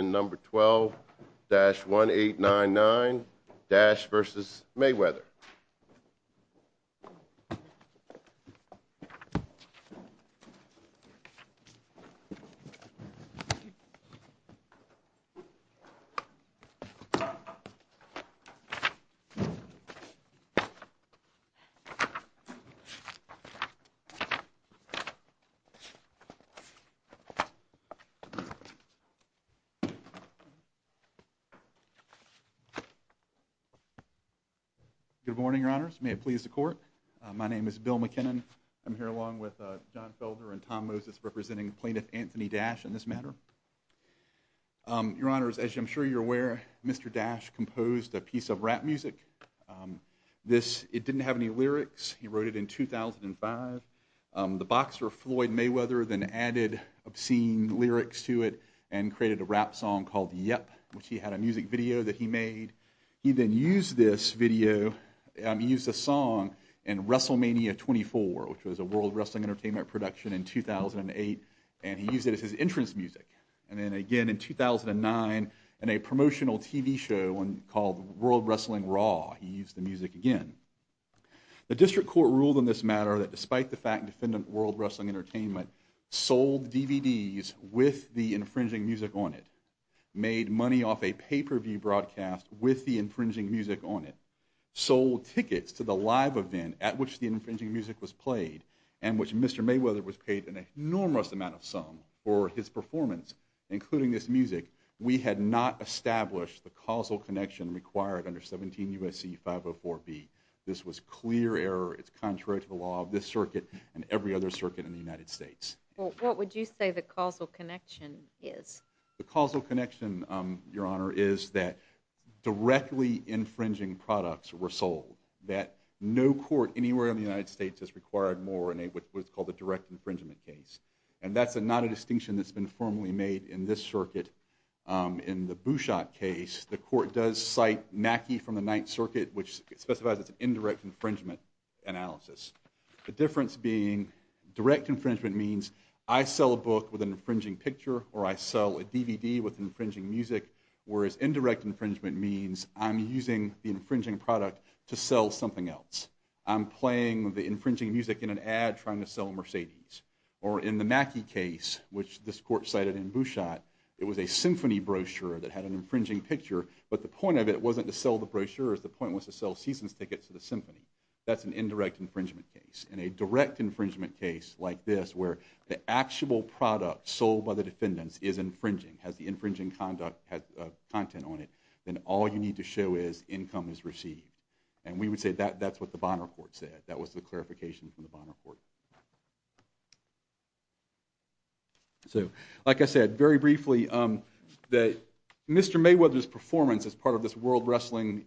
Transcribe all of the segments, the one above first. and number 12-1899 Dash v. Mayweather. Good morning, Your Honors. May it please the Court. My name is Bill McKinnon. I'm here along with John Felder and Tom Moses representing plaintiff Anthony Dash in this matter. Your Honors, as I'm sure you're aware, Mr. Dash composed a piece of rap music. It didn't have any lyrics. He wrote it in 2005. The boxer Floyd Mayweather then added obscene lyrics to it and created a rap song called Yep, which he had a music video that he made. He then used this video, he used this song in Wrestlemania 24, which was a World Wrestling Entertainment production in 2008, and he used it as his entrance music. And then again in 2009 in a promotional TV show called World Wrestling Raw, he used the music again. The District Court ruled in this matter that despite the fact that Mr. Mayweather, with the infringing music on it, made money off a pay-per-view broadcast with the infringing music on it, sold tickets to the live event at which the infringing music was played and which Mr. Mayweather was paid an enormous amount of sum for his performance, including this music, we had not established the causal connection required under 17 U.S.C. 504B. This was clear error. It's contrary to the law of this circuit and every other circuit in the United States. Well, what would you say the causal connection is? The causal connection, Your Honor, is that directly infringing products were sold, that no court anywhere in the United States has required more in what's called a direct infringement case. And that's not a distinction that's been formally made in this circuit. In the Bouchot case, the court does cite Mackey from the Ninth Circuit, which specifies it's an indirect infringement analysis. The difference being direct infringement means I sell a book with an infringing picture or I sell a DVD with infringing music, whereas indirect infringement means I'm using the infringing product to sell something else. I'm playing the infringing music in an ad trying to sell a Mercedes. Or in the Mackey case, which this court cited in Bouchot, it was a symphony brochure that had an infringing picture, but the point of it wasn't to sell the brochure. The point was to sell season's tickets to the symphony. That's an indirect infringement case. In a direct infringement case like this where the actual product sold by the defendants is infringing, has the infringing content on it, then all you need to show is income is received. And we would say that's what the Bonner Court said. That was the clarification from the Bonner Court. So, like I said, very briefly, Mr. Mayweather's performance as part of this World Wrestling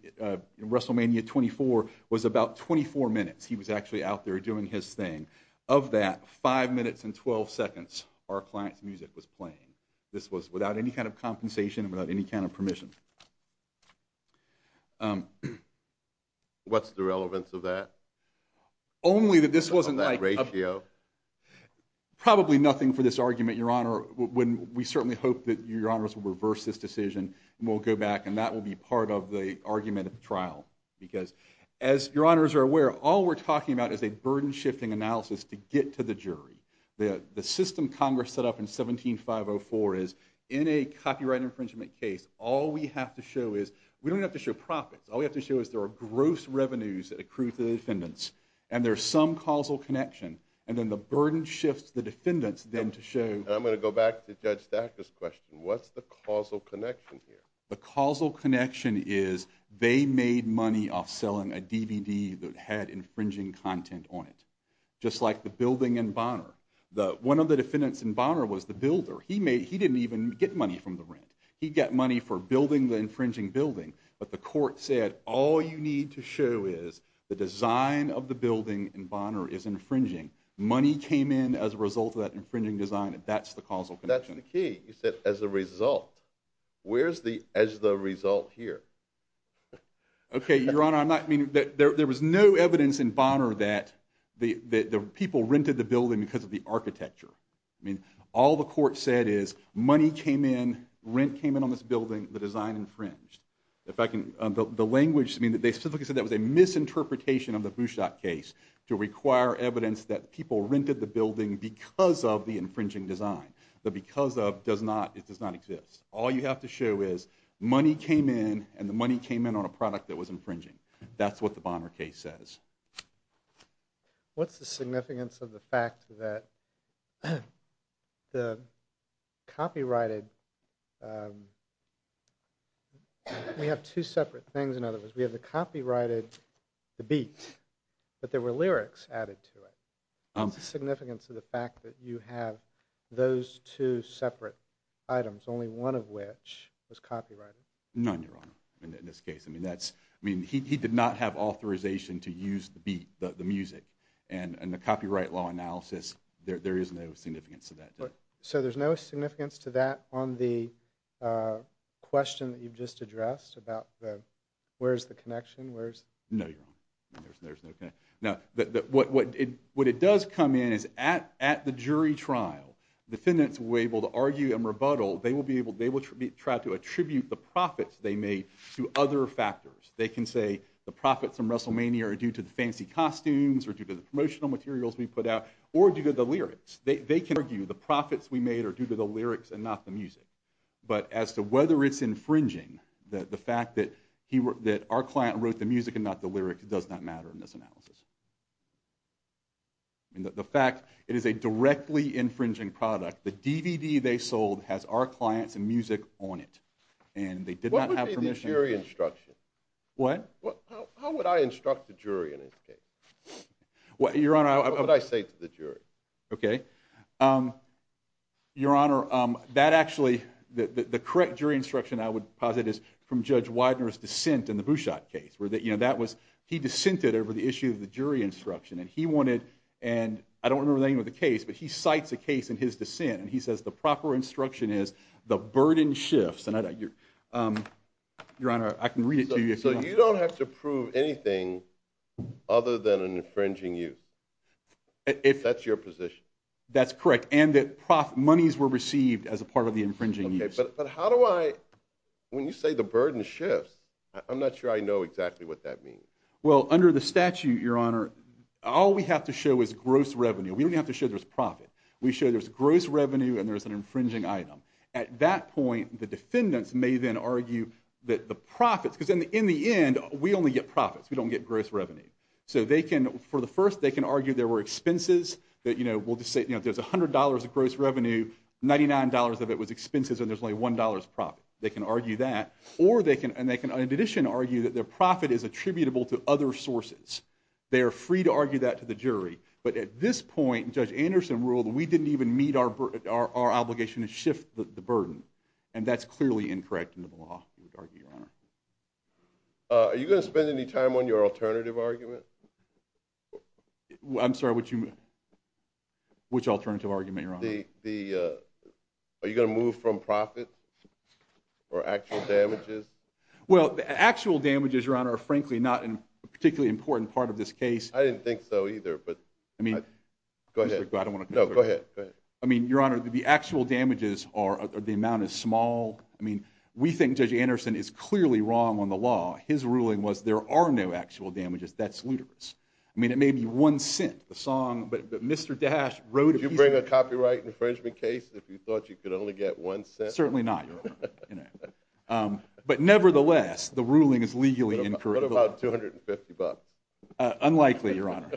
WrestleMania 24 was about 24 minutes. He was actually out there doing his thing. Of that, 5 minutes and 12 seconds our client's music was playing. This was without any kind of compensation, without any kind of permission. What's the relevance of that? Only that this wasn't like... That ratio? Probably nothing for this argument, Your Honor. We certainly hope that Your Honors will reverse this decision and we'll go back and that will be part of the argument of the trial. Because, as Your Honors are aware, all we're talking about is a burden-shifting analysis to get to the jury. The system Congress set up in 17504 is, in a copyright infringement case, all we have to show is... We don't have to show profits. All we have to show is there are gross revenues that accrue to the defendants and there's some causal connection, and then the burden shifts the defendants then to show... I'm going to go back to Judge Stacker's question. What's the causal connection here? The causal connection is they made money off selling a DVD that had infringing content on it. Just like the building in Bonner. One of the defendants in Bonner was the builder. He didn't even get money from the rent. He got money for building the infringing building, but the court said all you need to show is the design of the building in Bonner is infringing. Money came in as a result of that infringing design. That's the causal connection. That's the key. You said, as a result. Where's the, as the result here? Okay, Your Honor, I'm not... There was no evidence in Bonner that the people rented the building because of the architecture. I mean, all the court said is money came in, rent came in on this building, the design infringed. In fact, the language... They specifically said that was a misinterpretation of the Bouchot case to require evidence that people rented the building because of the infringing design. The because of does not, it does not exist. All you have to show is money came in, and the money came in on a product that was infringing. That's what the Bonner case says. What's the significance of the fact that the copyrighted... We have two separate things in other words. We have the copyrighted, the beat, but there were lyrics added to it. What's the significance of the fact that you have those two separate items, only one of which was copyrighted? None, Your Honor, in this case. I mean, that's, I mean, he did not have authorization to use the beat, the music, and the copyright law analysis, there is no significance of that. So there's no significance to that on the question that you've just addressed about the, where's the connection, where's... No, Your Honor, there's no connection. What it does come in is at the jury trial, defendants will be able to argue and rebuttal. They will be able, they will try to attribute the profits they made to other factors. They can say the profits in WrestleMania are due to the fancy costumes or due to the promotional materials we put out, or due to the lyrics. They can argue the profits we made are due to the lyrics and not the music. But as to whether it's infringing, the fact that our client wrote the music and not the lyrics does not matter in this analysis. The fact, it is a directly infringing product. The DVD they sold has our clients' music on it, and they did not have permission... What would be the jury instruction? What? How would I instruct the jury in this case? Your Honor, I... What would I say to the jury? Okay. Your Honor, that actually, the correct jury instruction I would posit is from Judge Widener's dissent in the Bouchot case, where that was, he dissented over the issue of the jury instruction, and he wanted, and I don't remember the name of the case, but he cites a case in his dissent, and he says the proper instruction is the burden shifts, and your Honor, I can read it to you if you want. So you don't have to prove anything other than an infringing use? That's your position? That's correct, and that monies were received as a part of the infringing use. Okay, but how do I, when you say the burden shifts, I'm not sure I know exactly what that means. Well, under the statute, your Honor, all we have to show is gross revenue. We don't even have to show there's profit. We show there's gross revenue and there's an infringing item. At that point, the defendants may then argue that the profits, because in the end, we only get profits, we don't get gross revenue. So they can, for the first, they can argue there were expenses, that, you know, we'll just say, you know, if there's $100 of gross revenue, $99 of it was expenses, and there's only $1 profit. They can argue that, or they can, and they can in addition argue that their profit is attributable to other sources. They are free to argue that to the jury, but at this point, Judge Anderson ruled we didn't even meet our obligation to shift the burden, and that's clearly incorrect under the law, I would argue, Your Honor. Are you going to spend any time on your alternative argument? I'm sorry, which alternative argument, Your Honor? Are you going to move from profit or actual damages? Well, the actual damages, Your Honor, are frankly not a particularly important part of this case. I didn't think so either, but... Go ahead. No, go ahead. I mean, Your Honor, the actual damages are, the amount is small. I mean, we think Judge Anderson is clearly wrong on the law. His ruling was there are no actual damages, that's ludicrous. I mean, it may be one cent, the song, but Mr. Dash wrote... Would you bring a copyright infringement case if you thought you could only get one cent? Certainly not, Your Honor. But nevertheless, the ruling is legally incorrect. What about $250? Unlikely, Your Honor.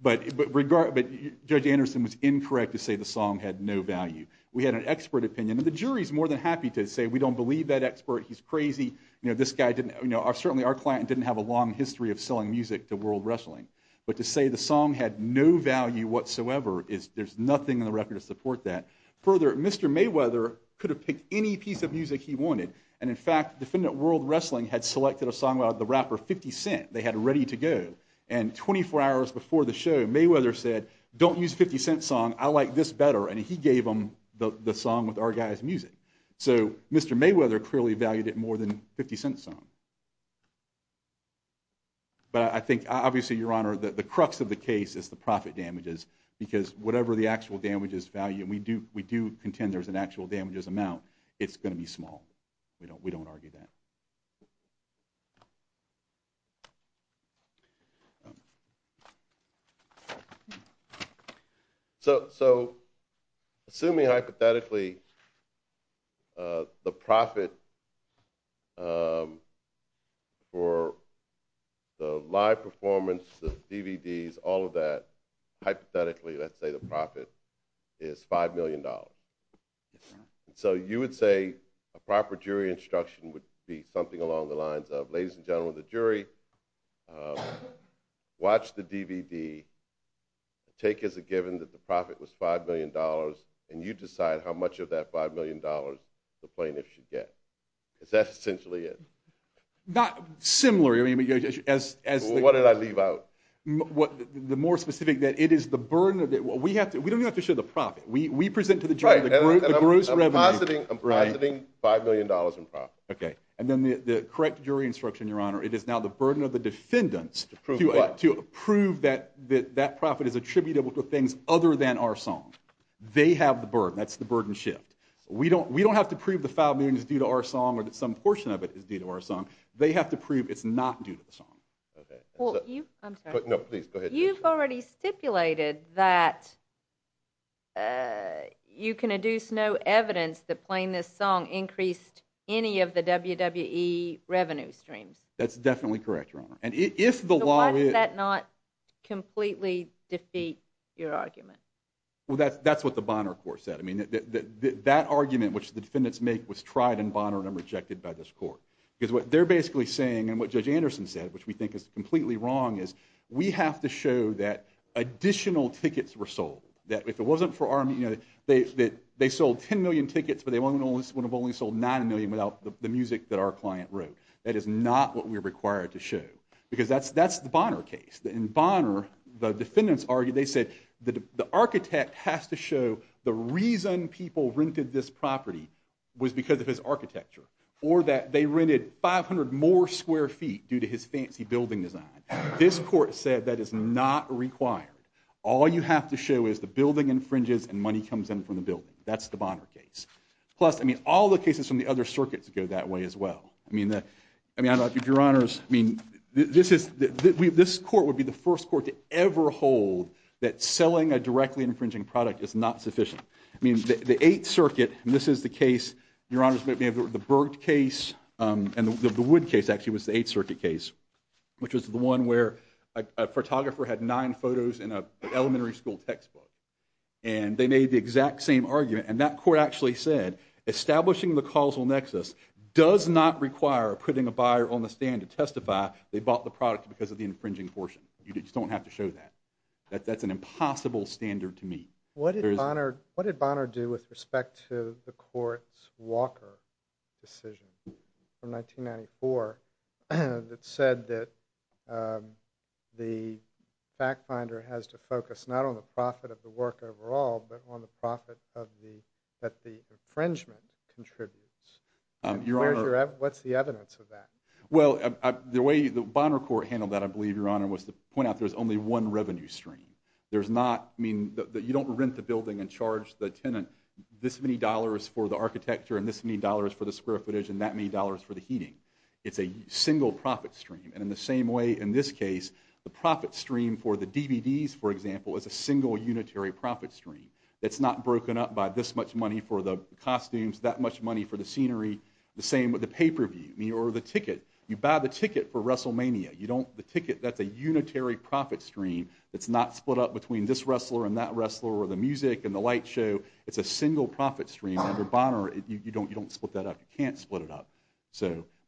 But Judge Anderson was incorrect to say the song had no value. We had an expert opinion, and the jury's more than happy to say we don't believe that expert, he's crazy. Certainly our client didn't have a long history of selling music to World Wrestling, but to say the song had no value whatsoever, there's nothing in the record to support that. Further, Mr. Mayweather could have picked any piece of music he wanted, and in fact, Defendant World Wrestling had selected a song by the rapper 50 Cent, they had it ready to go. And 24 hours before the show, Mayweather said, don't use 50 Cent's song, I like this better, and he gave them the song with our guy's music. So Mr. Mayweather clearly valued it more than 50 Cent's song. But I think, obviously, Your Honor, the crux of the case is the profit damages, because whatever the actual damages value, and we do contend there's an actual damages amount, it's going to be small. We don't argue that. So, assuming hypothetically, the profit for the live performance, the DVDs, all of that, hypothetically, let's say the profit is $5 million. So you would say a proper jury instruction would be something along the lines of, ladies and gentlemen of the jury, watch the DVD, take as a given that the profit was $5 million, and you decide how much of that $5 million the plaintiff should get. Because that's essentially it. Not similarly, I mean, as... What did I leave out? The more specific, that it is the burden, we don't even have to show the profit, we present to the jury the gross revenue. I'm positing $5 million in profit. And then the correct jury instruction, Your Honor, it is now the burden of the defendants... To prove what? To prove that that profit is attributable to things other than our song. They have the burden. That's the burden shift. We don't have to prove the $5 million is due to our song, or that some portion of it is due to our song. They have to prove it's not due to the song. I'm sorry. No, please, go ahead. But you've already stipulated that you can adduce no evidence that playing this song increased any of the WWE revenue streams. That's definitely correct, Your Honor. So why does that not completely defeat your argument? Well, that's what the Bonner Court said. I mean, that argument, which the defendants make, was tried in Bonner and rejected by this court. Because what they're basically saying, and what Judge Anderson said, which we think is completely wrong, is we have to show that additional tickets were sold. That if it wasn't for our... They sold 10 million tickets, but they would have only sold 9 million without the music that our client wrote. That is not what we're required to show. Because that's the Bonner case. In Bonner, the defendants argued, they said, the architect has to show the reason people rented this property was because of his architecture. Or that they rented 500 more square feet due to his fancy building design. This court said that is not required. All you have to show is the building infringes and money comes in from the building. That's the Bonner case. Plus, I mean, all the cases from the other circuits go that way as well. I mean, I don't know if Your Honors... I mean, this is... This court would be the first court to ever hold that selling a directly infringing product is not sufficient. I mean, the Eighth Circuit, and this is the case... Your Honors, we have the Berg case, and the Wood case, actually, was the Eighth Circuit case, which was the one where a photographer had nine photos in an elementary school textbook. And they made the exact same argument, and that court actually said establishing the causal nexus does not require putting a buyer on the stand to testify they bought the product because of the infringing portion. You just don't have to show that. That's an impossible standard to meet. What did Bonner do with respect to the court's Walker decision from 1994 that said that the fact finder has to focus not on the profit of the work overall, but on the profit that the infringement contributes? Your Honor... What's the evidence of that? Well, the way the Bonner court handled that, I believe, Your Honor, was to point out there's only one revenue stream. There's not... I mean, you don't rent the building and charge the tenant this many dollars for the architecture and this many dollars for the square footage and that many dollars for the heating. It's a single profit stream. And in the same way, in this case, the profit stream for the DVDs, for example, is a single unitary profit stream that's not broken up by this much money for the costumes, that much money for the scenery. The same with the pay-per-view or the ticket. You buy the ticket for WrestleMania. You don't... The ticket, that's a unitary profit stream that's not split up between this wrestler and that wrestler or the music and the light show. It's a single profit stream. Under Bonner, you don't split that up. You can't split it up.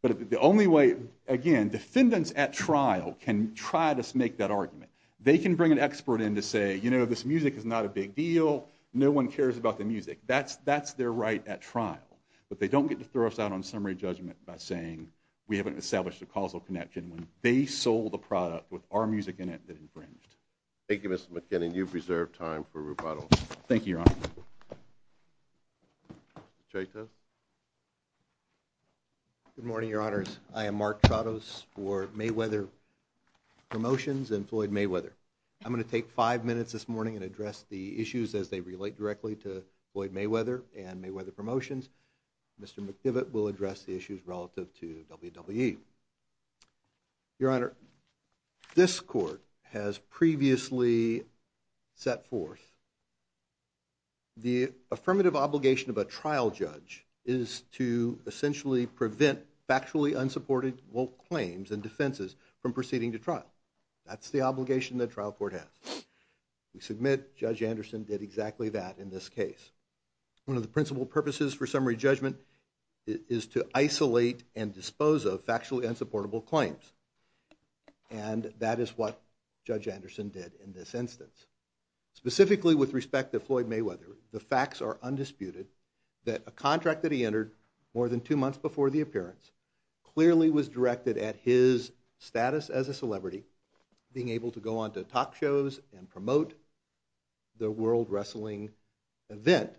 But the only way... Again, defendants at trial can try to make that argument. They can bring an expert in to say, you know, this music is not a big deal. No one cares about the music. That's their right at trial. But they don't get to throw us out on summary judgment by saying we haven't established a causal connection when they sold the product with our music in it that infringed. You've reserved time for rebuttals. Thank you, Your Honor. J.T. Good morning, Your Honors. I am Mark Tratos for Mayweather Promotions and Floyd Mayweather. I'm going to take five minutes this morning and address the issues as they relate directly to Floyd Mayweather and Mayweather Promotions. Mr. McDivitt will address the issues relative to WWE. Your Honor, this court has previously set forth the affirmative obligation of a trial judge is to essentially prevent factually unsupportable claims and defenses from proceeding to trial. That's the obligation that trial court has. We submit Judge Anderson did exactly that in this case. One of the principal purposes for summary judgment is to isolate and dispose of factually unsupportable claims. And that is what Judge Anderson did in this instance. Specifically with respect to Floyd Mayweather, the facts are undisputed that a contract that he entered more than two months before the appearance clearly was directed at his status as a celebrity, being able to go on to talk shows and promote the World Wrestling Event,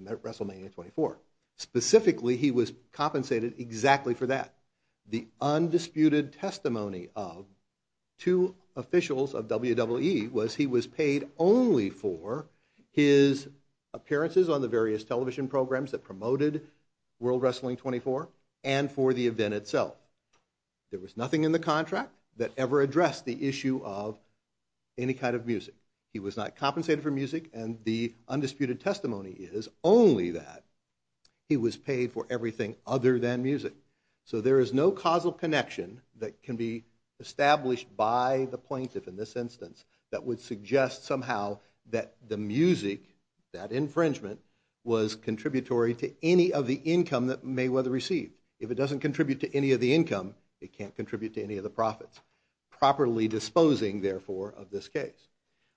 WrestleMania 24. Specifically, he was compensated exactly for that. The undisputed testimony of two officials of WWE was he was paid only for his appearances on the various television programs that promoted World Wrestling 24 and for the event itself. There was nothing in the contract that ever addressed the issue of any kind of music. He was not compensated for music and the undisputed testimony is only that he was paid for everything other than music. So there is no causal connection that can be established by the plaintiff in this instance that would suggest somehow that the music, that infringement, was contributory to any of the income that Mayweather received. If it doesn't contribute to any of the income, it can't contribute to any of the profits. Properly disposing, therefore, of this case.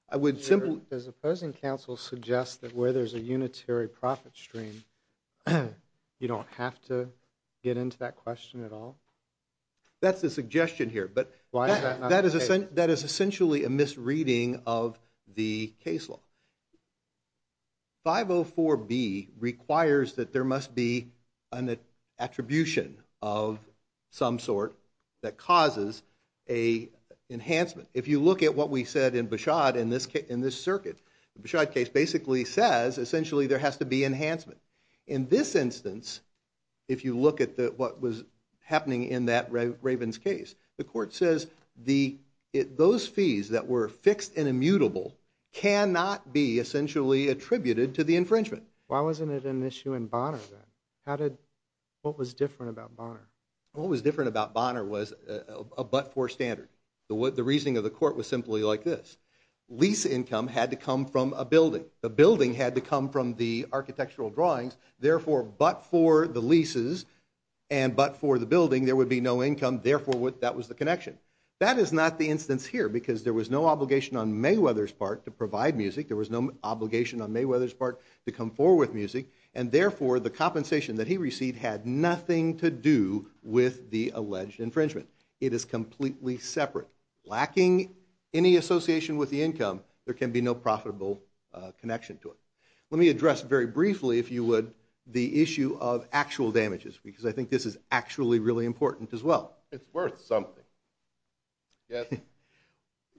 I would simply... Does opposing counsel suggest that where there's a unitary profit stream, you don't have to get into that question at all? That's the suggestion here. Why is that not the case? That is essentially a misreading of the case law. 504B requires that there must be an attribution of some sort that causes an enhancement. If you look at what we said in Beshad in this circuit, the Beshad case basically says essentially there has to be enhancement. In this instance, if you look at what was happening in that Ravens case, the court says those fees that were fixed and immutable cannot be essentially attributed to the infringement. Why wasn't it an issue in Bonner, then? What was different about Bonner? What was different about Bonner was a but-for standard. The reasoning of the court was simply like this. Lease income had to come from a building. The building had to come from the architectural drawings. Therefore, but for the leases and but for the building, there would be no income. Therefore, that was the connection. That is not the instance here because there was no obligation on Mayweather's part to provide music. There was no obligation on Mayweather's part to come forward with music. Therefore, the compensation that he received had nothing to do with the alleged infringement. It is completely separate. Lacking any association with the income, there can be no profitable connection to it. Let me address very briefly, if you would, the issue of actual damages because I think this is actually really important as well. It's worth something. Yes.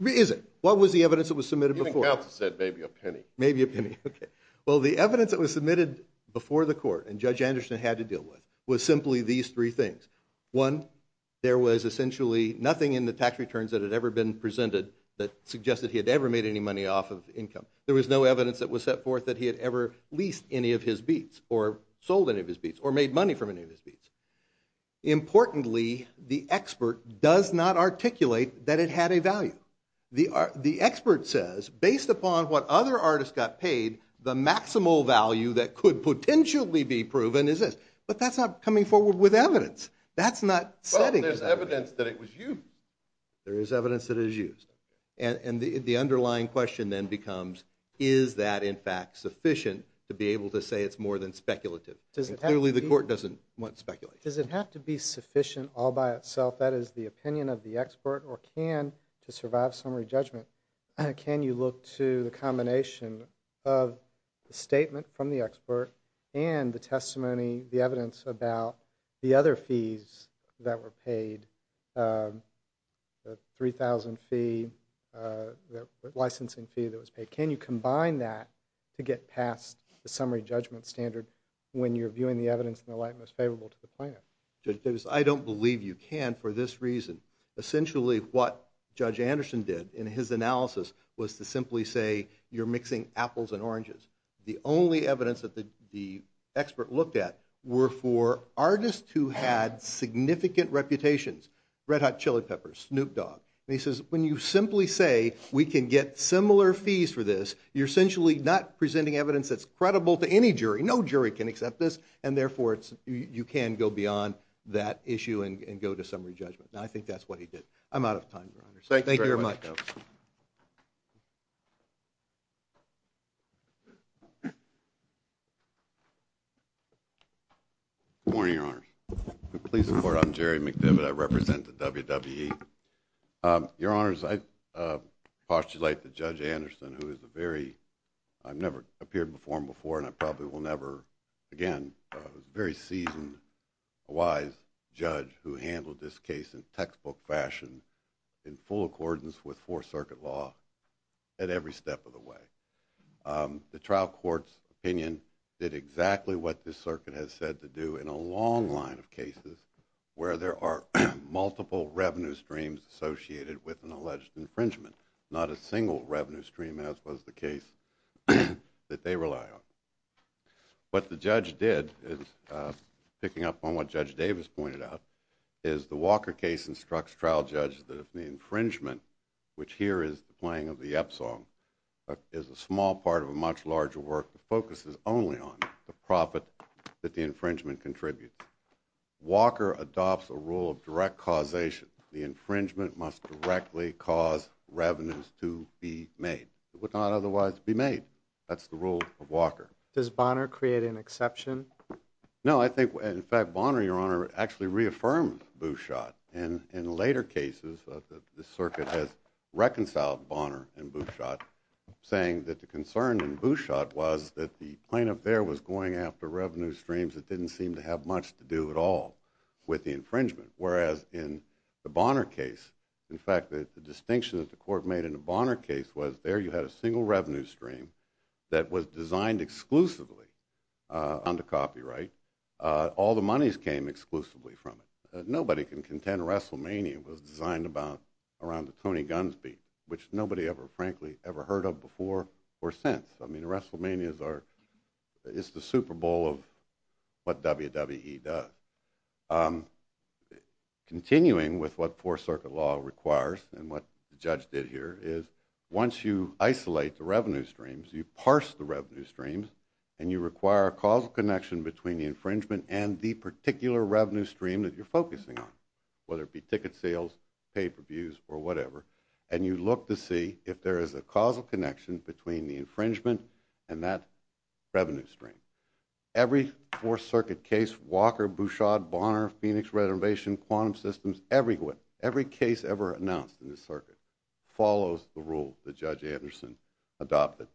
Is it? What was the evidence that was submitted before? Even Kautz said maybe a penny. Maybe a penny, okay. Well, the evidence that was submitted before the court and Judge Anderson had to deal with was simply these three things. One, there was essentially nothing in the tax returns that had ever been presented that suggested he had ever made any money off of income. There was no evidence that was set forth that he had ever leased any of his beats or sold any of his beats or made money from any of his beats. Importantly, the expert does not articulate that it had a value. The expert says, based upon what other artists got paid, the maximal value that could potentially be proven is this. But that's not coming forward with evidence. That's not setting the evidence. Well, there's evidence that it was used. There is evidence that it was used. And the underlying question then becomes, is that in fact sufficient to be able to say it's more than speculative? Clearly, the court doesn't want speculation. Does it have to be sufficient all by itself? That is the opinion of the expert or can, to survive summary judgment, can you look to the combination of the statement from the expert and the testimony, the evidence, the 3,000 licensing fee that was paid? Can you combine that to get past the summary judgment standard when you're viewing the evidence in the light most favorable to the plaintiff? Judge Davis, I don't believe you can for this reason. Essentially, what Judge Anderson did in his analysis was to simply say, you're mixing apples and oranges. The only evidence that the expert looked at were for artists who had significant reputations. Red Hot Chili Peppers, Snoop Dogg. And he says, when you simply say we can get similar fees for this, you're essentially not presenting evidence that's credible to any jury. No jury can accept this, and therefore you can go beyond that issue and go to summary judgment. I think that's what he did. I'm out of time, Your Honor. Thank you very much. Good morning, Your Honor. Please support. I'm Jerry McDivitt. I represent the WWE. Your Honors, I postulate that Judge Anderson, who is a very... I've never appeared before him before, and I probably will never again. He's a very seasoned, wise judge who handled this case in textbook fashion in full accordance with Fourth Circuit law at every step of the way. The trial court's opinion did exactly what this circuit has said to do in a long line of cases where there are multiple revenue streams associated with an alleged infringement, not a single revenue stream, as was the case that they rely on. What the judge did, picking up on what Judge Davis pointed out, is the Walker case instructs trial judges that if the infringement, which here is the playing of the Epsom, is a small part of a much larger work that focuses only on the profit that the infringement contributes. Walker adopts a rule of direct causation. The infringement must directly cause revenues to be made. It would not otherwise be made. That's the rule of Walker. Does Bonner create an exception? No, I think... In fact, Bonner, Your Honor, actually reaffirmed Bouchot. And in later cases, the circuit has reconciled Bonner and Bouchot, saying that the concern in Bouchot was that the plaintiff there was going after revenue streams that didn't seem to have much to do at all with the infringement. Whereas in the Bonner case, in fact, the distinction that the court made in the Bonner case was there you had a single revenue stream that was designed exclusively under copyright. All the monies came exclusively from it. Nobody can contend Wrestlemania was designed around the Tony Gunsby, which nobody ever, frankly, ever heard of before or since. I mean, Wrestlemania is the Super Bowl of what WWE does. Continuing with what Fourth Circuit law requires and what the judge did here is once you isolate the revenue streams, you parse the revenue streams, and you require a causal connection between the infringement and the particular revenue stream that you're focusing on, whether it be ticket sales, pay-per-views, or whatever, and you look to see if there is a causal connection between the infringement and that revenue stream. Every Fourth Circuit case, Walker, Bouchard, Bonner, Phoenix, Reservation, Quantum Systems, every case ever announced in the circuit follows the rule that Judge Anderson adopted.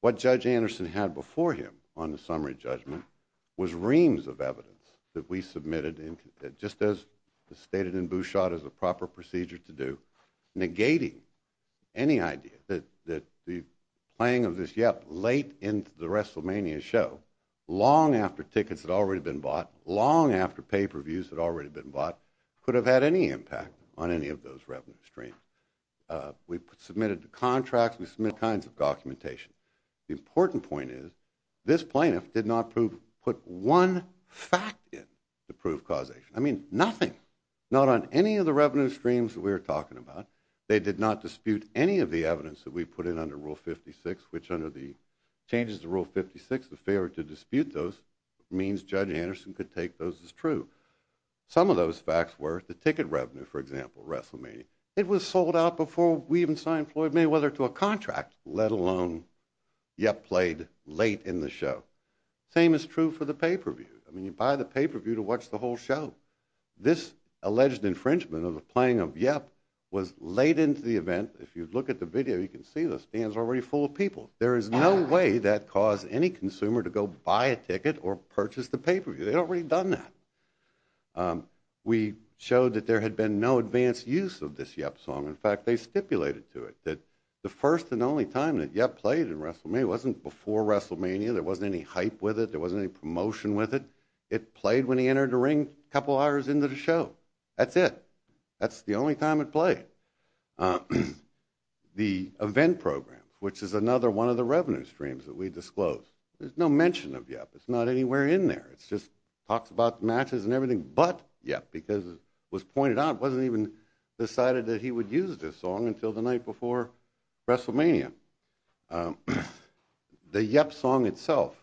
What Judge Anderson had before him on the summary judgment was reams of evidence that we submitted just as stated in Bouchard as a proper procedure to do, negating any idea that the playing of this yap late into the WrestleMania show, long after tickets had already been bought, long after pay-per-views had already been bought, could have had any impact on any of those revenue streams. We submitted contracts. We submitted all kinds of documentation. The important point is this plaintiff did not put one fact in to prove causation. I mean, nothing. Not on any of the revenue streams that we were talking about. They did not dispute any of the evidence that we put in under Rule 56, which under the changes to Rule 56, the failure to dispute those means Judge Anderson could take those as true. Some of those facts were the ticket revenue, for example, WrestleMania. It was sold out before we even signed Floyd Mayweather to a contract, let alone yap played late in the show. Same is true for the pay-per-view. I mean, you buy the pay-per-view to watch the whole show. This alleged infringement of the playing of yap was late into the event. If you look at the video, you can see the stands are already full of people. There is no way that caused any consumer to go buy a ticket or purchase the pay-per-view. They'd already done that. We showed that there had been no advanced use of this yap song. In fact, they stipulated to it that the first and only time that yap played in WrestleMania, it wasn't before WrestleMania. There wasn't any hype with it. There wasn't any promotion with it. It played when he entered the ring a couple hours into the show. That's it. That's the only time it played. The event program, which is another one of the revenue streams that we disclosed, there's no mention of yap. It's not anywhere in there. It just talks about matches and everything, but yap, because it was pointed out, it wasn't even decided that he would use this song until the night before WrestleMania. The yap song itself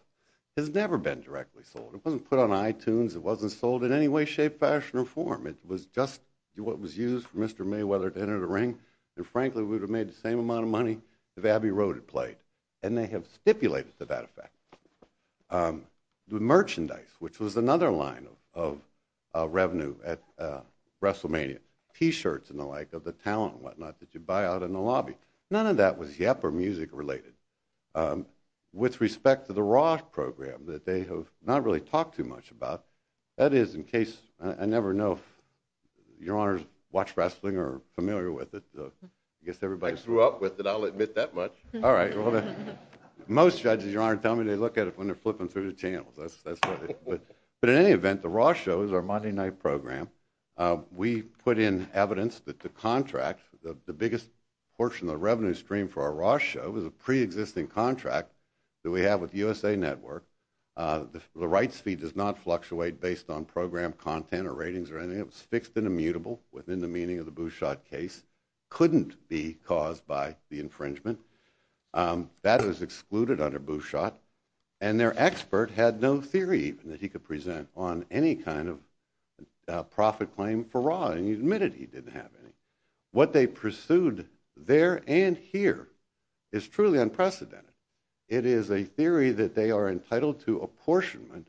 has never been directly sold. It wasn't put on iTunes. It wasn't sold in any way, shape, fashion, or form. It was just what was used for Mr. Mayweather to enter the ring. And frankly, we would have made the same amount of money if Abbey Road had played. And they have stipulated to that effect. The merchandise, which was another line of revenue at WrestleMania. T-shirts and the like of the talent and whatnot that you buy out in the lobby. None of that was yap or music related. With respect to the Raw program that they have not really talked too much about, that is in case, I never know if most judges, Your Honor, watch wrestling or are familiar with it. I guess everybody's... I grew up with it, I'll admit that much. All right. Most judges, Your Honor, tell me they look at it when they're flipping through the channels. But in any event, the Raw show is our Monday night program. We put in evidence that the contract, the biggest portion of the revenue stream for our Raw show is a pre-existing contract that we have with the USA Network. The rights fee does not fluctuate based on program content or ratings or anything. It was fixed and immutable within the meaning of the Bouchot case. Couldn't be caused by the infringement. That is excluded under Bouchot. And their expert had no theory even that he could present on any kind of profit claim for Raw. And he admitted he didn't have any. What they pursued there and here is truly unprecedented. It is a theory that they are entitled to apportionment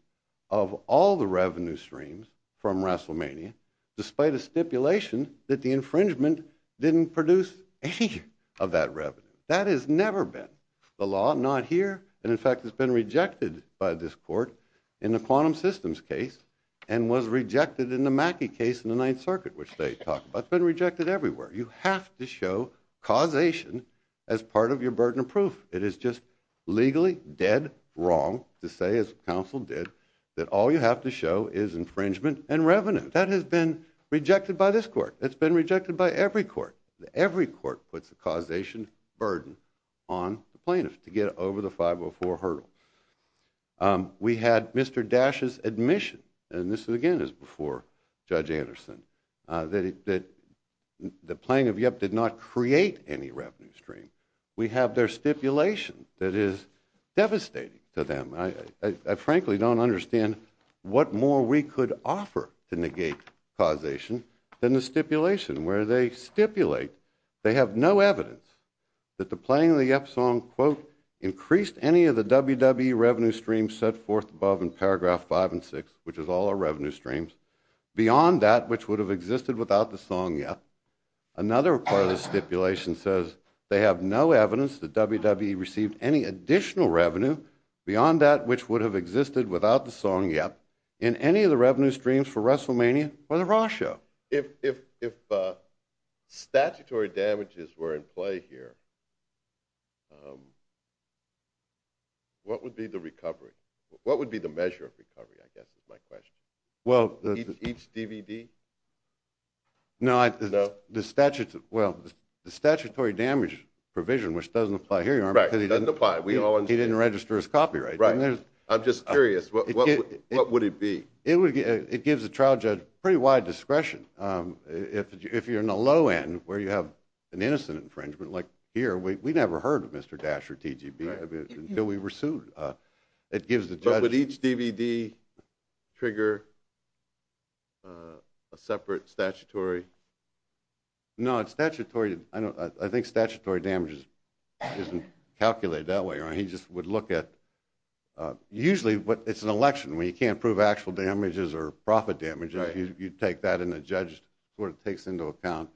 of all the revenue streams from WrestleMania despite a stipulation that the infringement didn't produce any of that revenue. That has never been the law. Not here. And in fact, it's been rejected by this court in the Quantum Systems case and was rejected in the Mackey case in the Ninth Circuit, which they talk about. It's been rejected everywhere. You have to show causation as part of your burden of proof. It is just legally dead wrong to say, as counsel did, that all you have to show is infringement and revenue. That has been rejected by this court. It's been rejected by every court. Every court puts a causation burden on the plaintiff to get over the 504 hurdle. We had Mr. Dash's admission, and this again is before Judge Anderson, that the plaintiff, yep, did not create any revenue stream. We have their stipulation that is devastating to them. I frankly don't understand what more we could offer to negate causation than the stipulation where they stipulate they have no evidence that the playing of the yep song, quote, increased any of the WWE revenue stream set forth above in paragraph five and six, which is all our revenue streams, beyond that which would have existed without the song yep. Another part of the stipulation says they have no evidence that WWE received any additional revenue beyond that which would have existed without the song yep in any of the revenue streams for WrestleMania or the Raw show. If statutory damages were in play here, what would be the recovery? What would be the measure of recovery, I guess is my question. Each DVD? No, the statutory damage provision, which doesn't apply here, Your Honor. Right, doesn't apply. He didn't register his copyright. I'm just curious. What would it be? It gives the trial judge pretty wide discretion. If you're in the low end where you have an innocent infringement, like here, we never heard of Mr. Dash or TGB until we were sued. But would each DVD trigger a separate statutory... No, I think statutory damages isn't calculated that way, Your Honor. He just would look at... Usually, it's an election. When you can't prove actual damages or profit damages, you take that and the judge sort of takes into account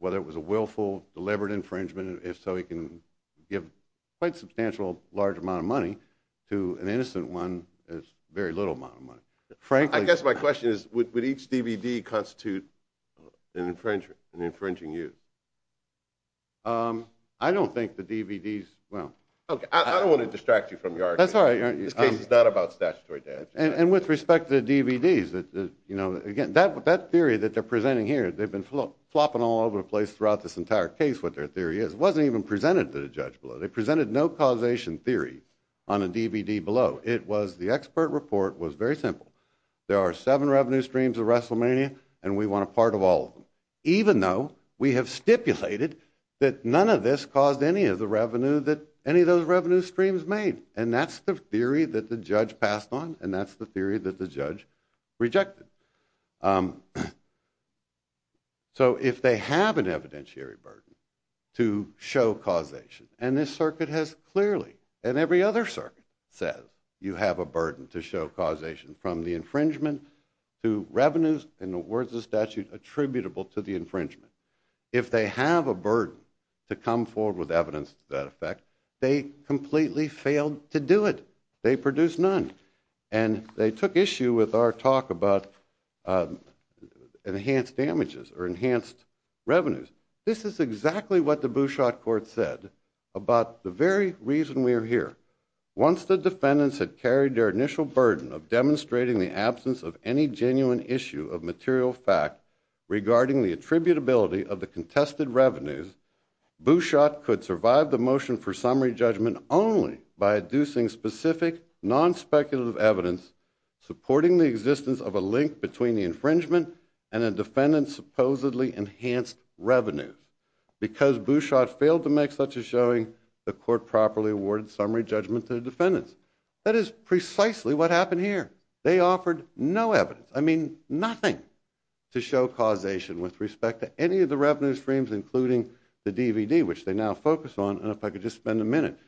whether it was a willful, deliberate infringement. If so, he can give quite a substantial, large amount of money to an innocent one with a very little amount of money. I guess my question is would each DVD constitute an infringing use? I don't think the DVDs... I don't want to distract you from your argument. This case is not about statutory damages. And with respect to the DVDs, again, that theory that they're presenting here, they've been flopping all over the place throughout this entire case what their theory is. It wasn't even presented to the judge below. They presented no causation theory on a DVD below. The expert report was very simple. There are seven revenue streams of WrestleMania, and we want a part of all of them. Even though we have stipulated that none of this caused any of the revenue that any of those revenue streams made. And that's the theory that the judge passed on, and that's the theory that the judge rejected. So if they have an evidentiary burden to show causation, and this circuit has clearly, and every other circuit says, you have a burden to show causation from the infringement to revenues, in the words of the statute, attributable to the infringement. If they have a burden to come forward with evidence to that effect, they completely failed to do it. They produced none. And they took issue with our talk about enhanced damages or enhanced revenues. This is exactly what the Bouchot court said about the very reason we are here. Once the defendants had carried their initial burden of demonstrating the absence of any genuine issue of material fact regarding the attributability of the contested revenues, Bouchot could survive the motion for summary judgment only by inducing specific non-speculative evidence supporting the existence of a link between the infringement and a defendant's supposedly enhanced revenues because Bouchot failed to make such a showing the court properly awarded summary judgment to the defendants. That is precisely what happened here. They offered no evidence. I mean nothing to show causation with respect to any of the revenue streams including the DVD which they now focus on. And if I could just spend a minute.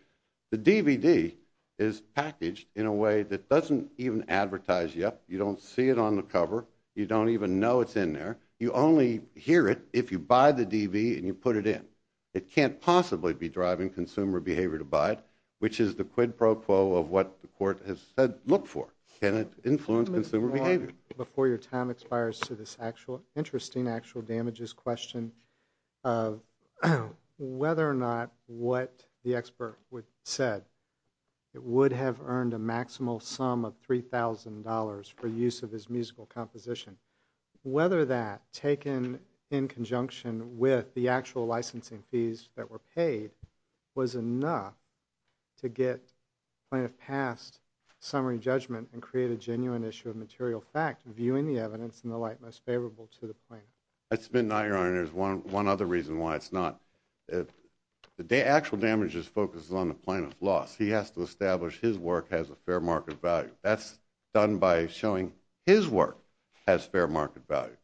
The DVD is packaged in a way that doesn't even advertise yet. You don't see it on the cover. You don't even know it's in there. You only hear it if you buy the DVD and you put it in. It can't possibly be driving consumer behavior to buy it which is the quid pro quo of what the court has said, look for. Can it influence consumer behavior? Before your time expires to this actual interesting actual damages question of whether or not what the expert said would have earned a maximal sum of $3,000 for use of his musical composition. Whether that taken in conjunction with the actual licensing fees that were paid was enough to get plaintiff passed summary judgment and create a genuine issue of material fact viewing the evidence in the light most favorable to the plaintiff. I submit not, your honor, there's one other reason why it's not. The actual damages focus on the plaintiff's loss. He has to establish his work has a fair market value. That's done by showing his work has fair market value.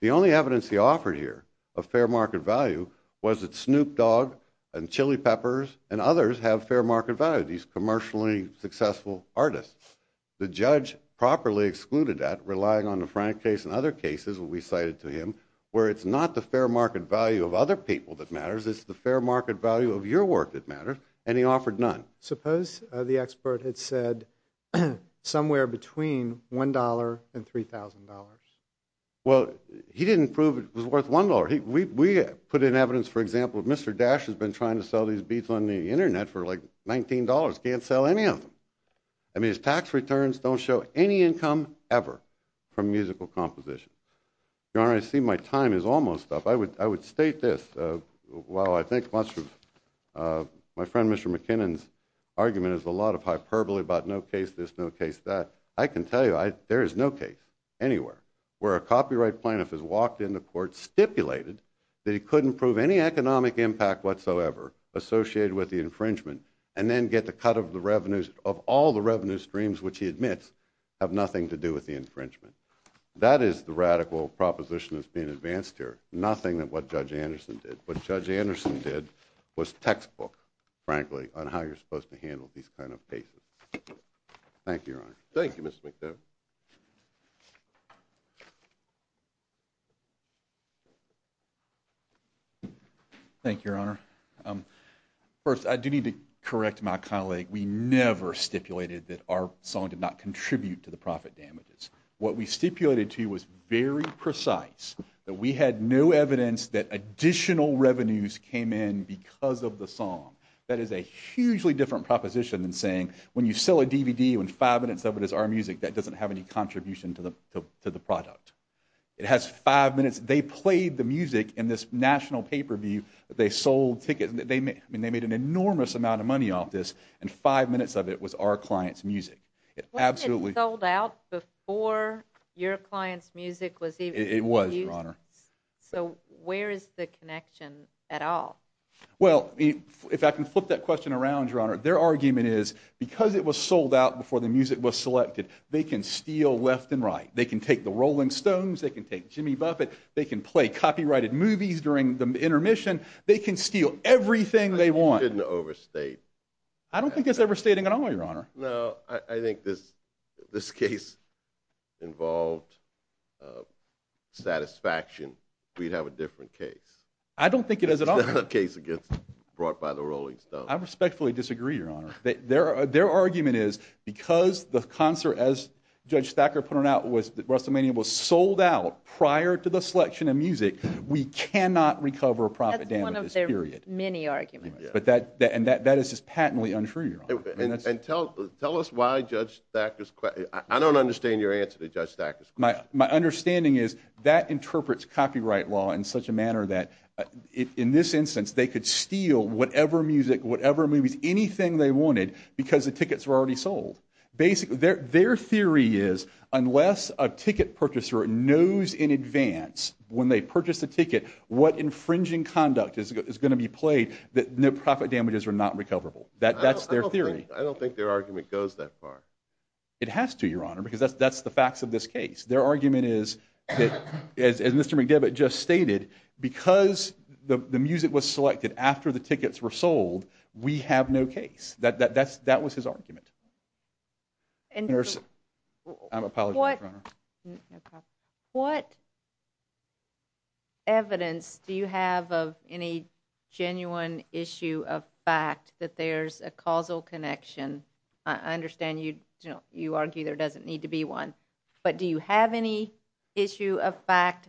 The only evidence he offered here of fair market value was that Snoop Dogg and Chili Peppers and others have fair market value. These commercially successful artists. The judge properly excluded that relying on the Frank case and other cases that we cited to him where it's not the fair market value of other people that matters. It's the fair market value of your work that matters and he offered none. Suppose the expert had said somewhere between $1 and $3,000. Well, he didn't prove it was worth $1. We put in evidence, for example, Mr. Dash has been trying to sell these beats on the internet for like $19. Can't sell any of them. I mean, the tax returns don't show any income ever from musical composition. Your Honor, I see my time is almost up. I would state this. While I think much of my friend Mr. McKinnon's argument is a lot of hyperbole about no case this, no case that, I can tell you there is no case anywhere where a copyright plaintiff has walked into court stipulated that he couldn't prove any economic impact whatsoever associated with the infringement and then get the cut of the revenues, of all the revenue streams which he admits have nothing to do with the infringement. That is the radical proposition that's being advanced here. Nothing that what Judge Anderson did. What Judge Anderson did was textbook, frankly, on how you're supposed to handle these kind of cases. Thank you, Your Honor. Thank you, Mr. McKinnon. Thank you, Your Honor. First, I do need to correct my colleague. We never stipulated that our song did not contribute to the profit damages. What we stipulated to you was very precise. That we had no evidence that additional revenues came in because of the song. That is a hugely different proposition than saying when you sell a DVD when five minutes of it is our music that doesn't have any contribution to the product. It has five minutes. They played the music in this national pay-per-view. They sold tickets. I mean, they made an enormous amount of money off this and five minutes of it was our client's music. It absolutely... When it sold out before your client's music was even used? It was, Your Honor. So, where is the connection at all? Well, if I can flip that question around, Your Honor, their argument is because it was sold out before the music was selected, they can steal left and right. They can take the Rolling Stones. They can take Jimmy Buffett. They can play copyrighted movies during the intermission. They can steal everything they want. I think you didn't overstate... I don't think it's overstating at all, Your Honor. No, I think this case involved satisfaction. We'd have a different case. I don't think it is at all. It's not a case that gets brought by the Rolling Stones. I respectfully disagree, Your Honor. Their argument is because the concert, as Judge Thacker put it out, the WrestleMania was sold out prior to the selection of music, we cannot recover a profit damage. That's one of their arguments, period. Many arguments. patently untrue, Your Honor. Tell us why Judge Thacker's... I don't understand your answer to Judge Thacker's question. My understanding is that interprets copyright law in such a manner that in this instance they could steal whatever music, whatever movies, anything they wanted because the tickets were already sold. Basically, their theory is unless a ticket purchaser knows in advance when they purchase a ticket what infringing conduct is going to be played, that no profit damages are not recoverable. That's their theory. I don't think their argument goes that far. It has to, Your Honor, because that's the facts of this case. Their argument is as Mr. McDevitt just stated, because the music was selected after the tickets were sold, we have no case. That was his argument. I'm apologizing, Your Honor. What evidence do you have of any genuine issue of fact that there's a causal connection? I understand you argue there doesn't need to be one, but do you have any issue of fact?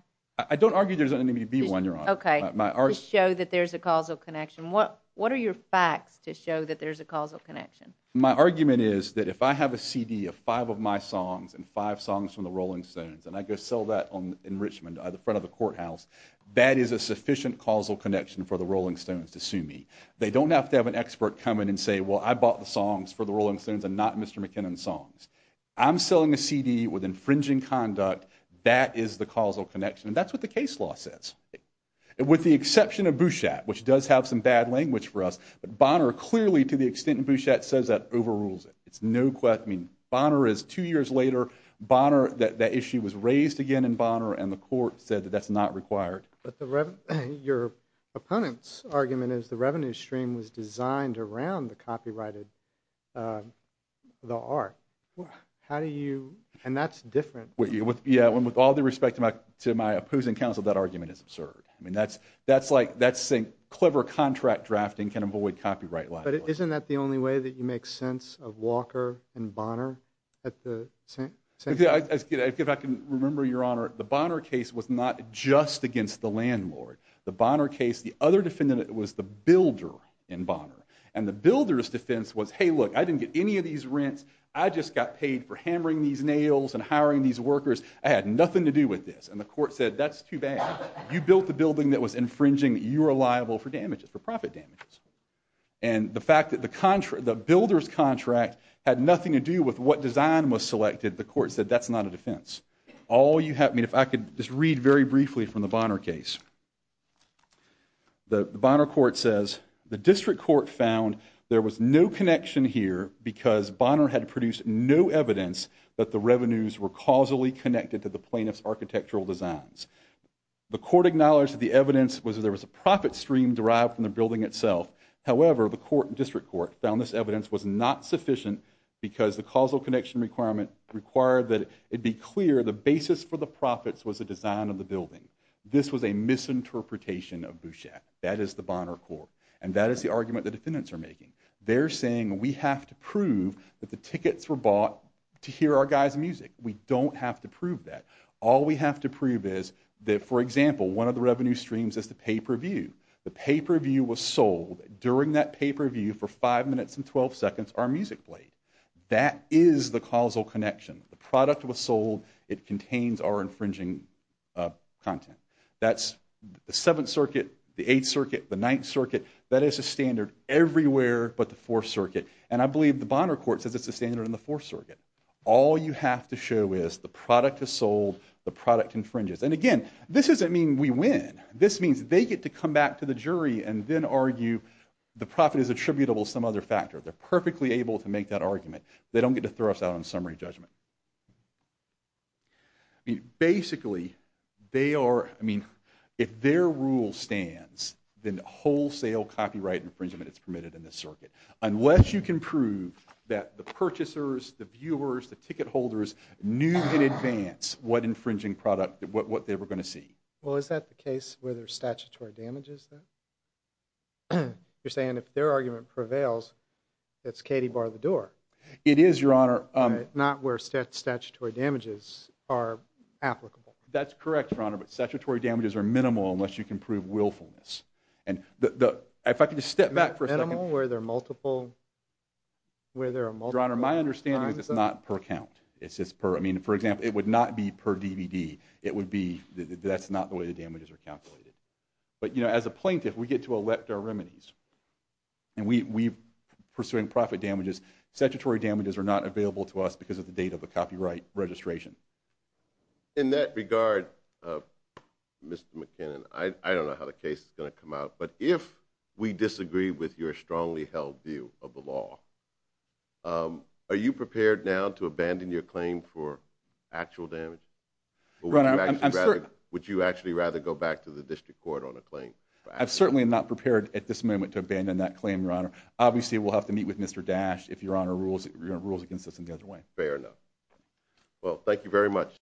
I don't argue there doesn't need to be one, Your Honor. Okay. To show that there's a causal connection. What are your facts to show that there's a causal connection? My argument is that if I have a CD of five of my songs and five songs from the Rolling Stones and I go sell that in Richmond at the front of the courthouse, that is a sufficient causal connection for the Rolling Stones to sue me. They don't have to have an expert come in and say, well, I bought the songs for the Rolling Stones and not Mr. McKinnon's songs. I'm selling a CD with infringing conduct. That is the causal connection and that's what the case law says. With the exception of Bouchat, which does have some bad language for us, Bonner clearly, to the extent that Bouchat says that, overrules it. It's no question. Bonner is, two years later, Bonner, that issue was raised again in Bonner and the court said that that's not required. But the revenue, your opponent's argument is the revenue stream was designed around the copyrighted, the art. How do you, and that's different. Yeah, with all due respect to my opposing counsel, that argument is absurd. I mean, that's, that's like, that's saying clever contract drafting can avoid copyright. But isn't that the only way that you make sense of Walker and Bonner at the, if I can remember, your honor, the Bonner case was not just against the landlord. The Bonner case, the other defendant was the builder in Bonner. And the builder's defense was, hey look, I didn't get any of these rents. I just got paid for hammering these nails and hiring these workers. I had nothing to do with this. And the court said, that's too bad. You built the building that was infringing that you are liable for damages, for profit damages. And the fact that the builder's contract had nothing to do with what design was selected, the court said, that's not a defense. All you have, I mean, if I could just read very briefly from the Bonner case. The Bonner court says, the district court found there was no connection here because Bonner had produced no evidence that the revenues were causally connected to the plaintiff's architectural designs. The court acknowledged that the evidence was that there was a profit stream derived from the building itself. However, the court, district court, found this evidence was not sufficient because the causal connection requirement required that it be clear the basis for the profits was the design of the building. This was a misinterpretation of Bouchet. That is the Bonner court. And that is the argument the defendants are making. They're saying, we have to prove that the tickets were bought to hear our guys' music. We don't have to prove that. All we have to prove is that, for example, one of the revenue streams is the pay-per-view. The pay-per-view was sold during that pay-per-view for 5 minutes and 12 seconds our music played. That is the causal connection. The product was sold. It contains our infringing content. That's the 7th circuit, the 8th circuit, the 9th circuit. That is a standard but the 4th circuit. And I believe the Bonner court says it's a standard in the 4th circuit. All you have to show is the product is sold, the product infringes. And again, this doesn't mean we win. This means they get to come back to the jury and then argue the profit is attributable to some other factor. They're perfectly able to make that argument. They don't get to throw us out on summary judgment. I mean, basically, they are, I mean, if their rule stands, then wholesale copyright infringement is permitted in this circuit unless you can prove that the purchasers, the viewers, the ticket holders knew in advance what infringing product, what they were going to see. Well, is that the case where there's statutory damages then? You're saying if their argument prevails, it's Katy bar the door. It is, Your Honor. Not where statutory damages are applicable. That's correct, Your Honor, but statutory damages are minimal unless you can prove willfulness. If I could just step back for a second. Minimal where there are multiple... Your Honor, my understanding is it's not per count. It's just per, I mean, for example, it would not be per DVD. It would be, that's not the way statutory damages are calculated, but, you know, as a plaintiff, we get to elect our remedies and we, pursuing profit damages, statutory damages are not available to us because of the date of the copyright registration. In that regard, Mr. McKinnon, I don't know how the case is going to come out, but if we disagree with your strongly held view of the law, are you prepared now to abandon your claim for actual damage? Your Honor, I'm sure... Would you actually rather go back to the district court on a claim? I'm certainly not prepared at this moment to abandon that claim, Your Honor. Obviously, we'll have to meet with Mr. Dash if your Honor rules against us in the other way. Fair enough. Well,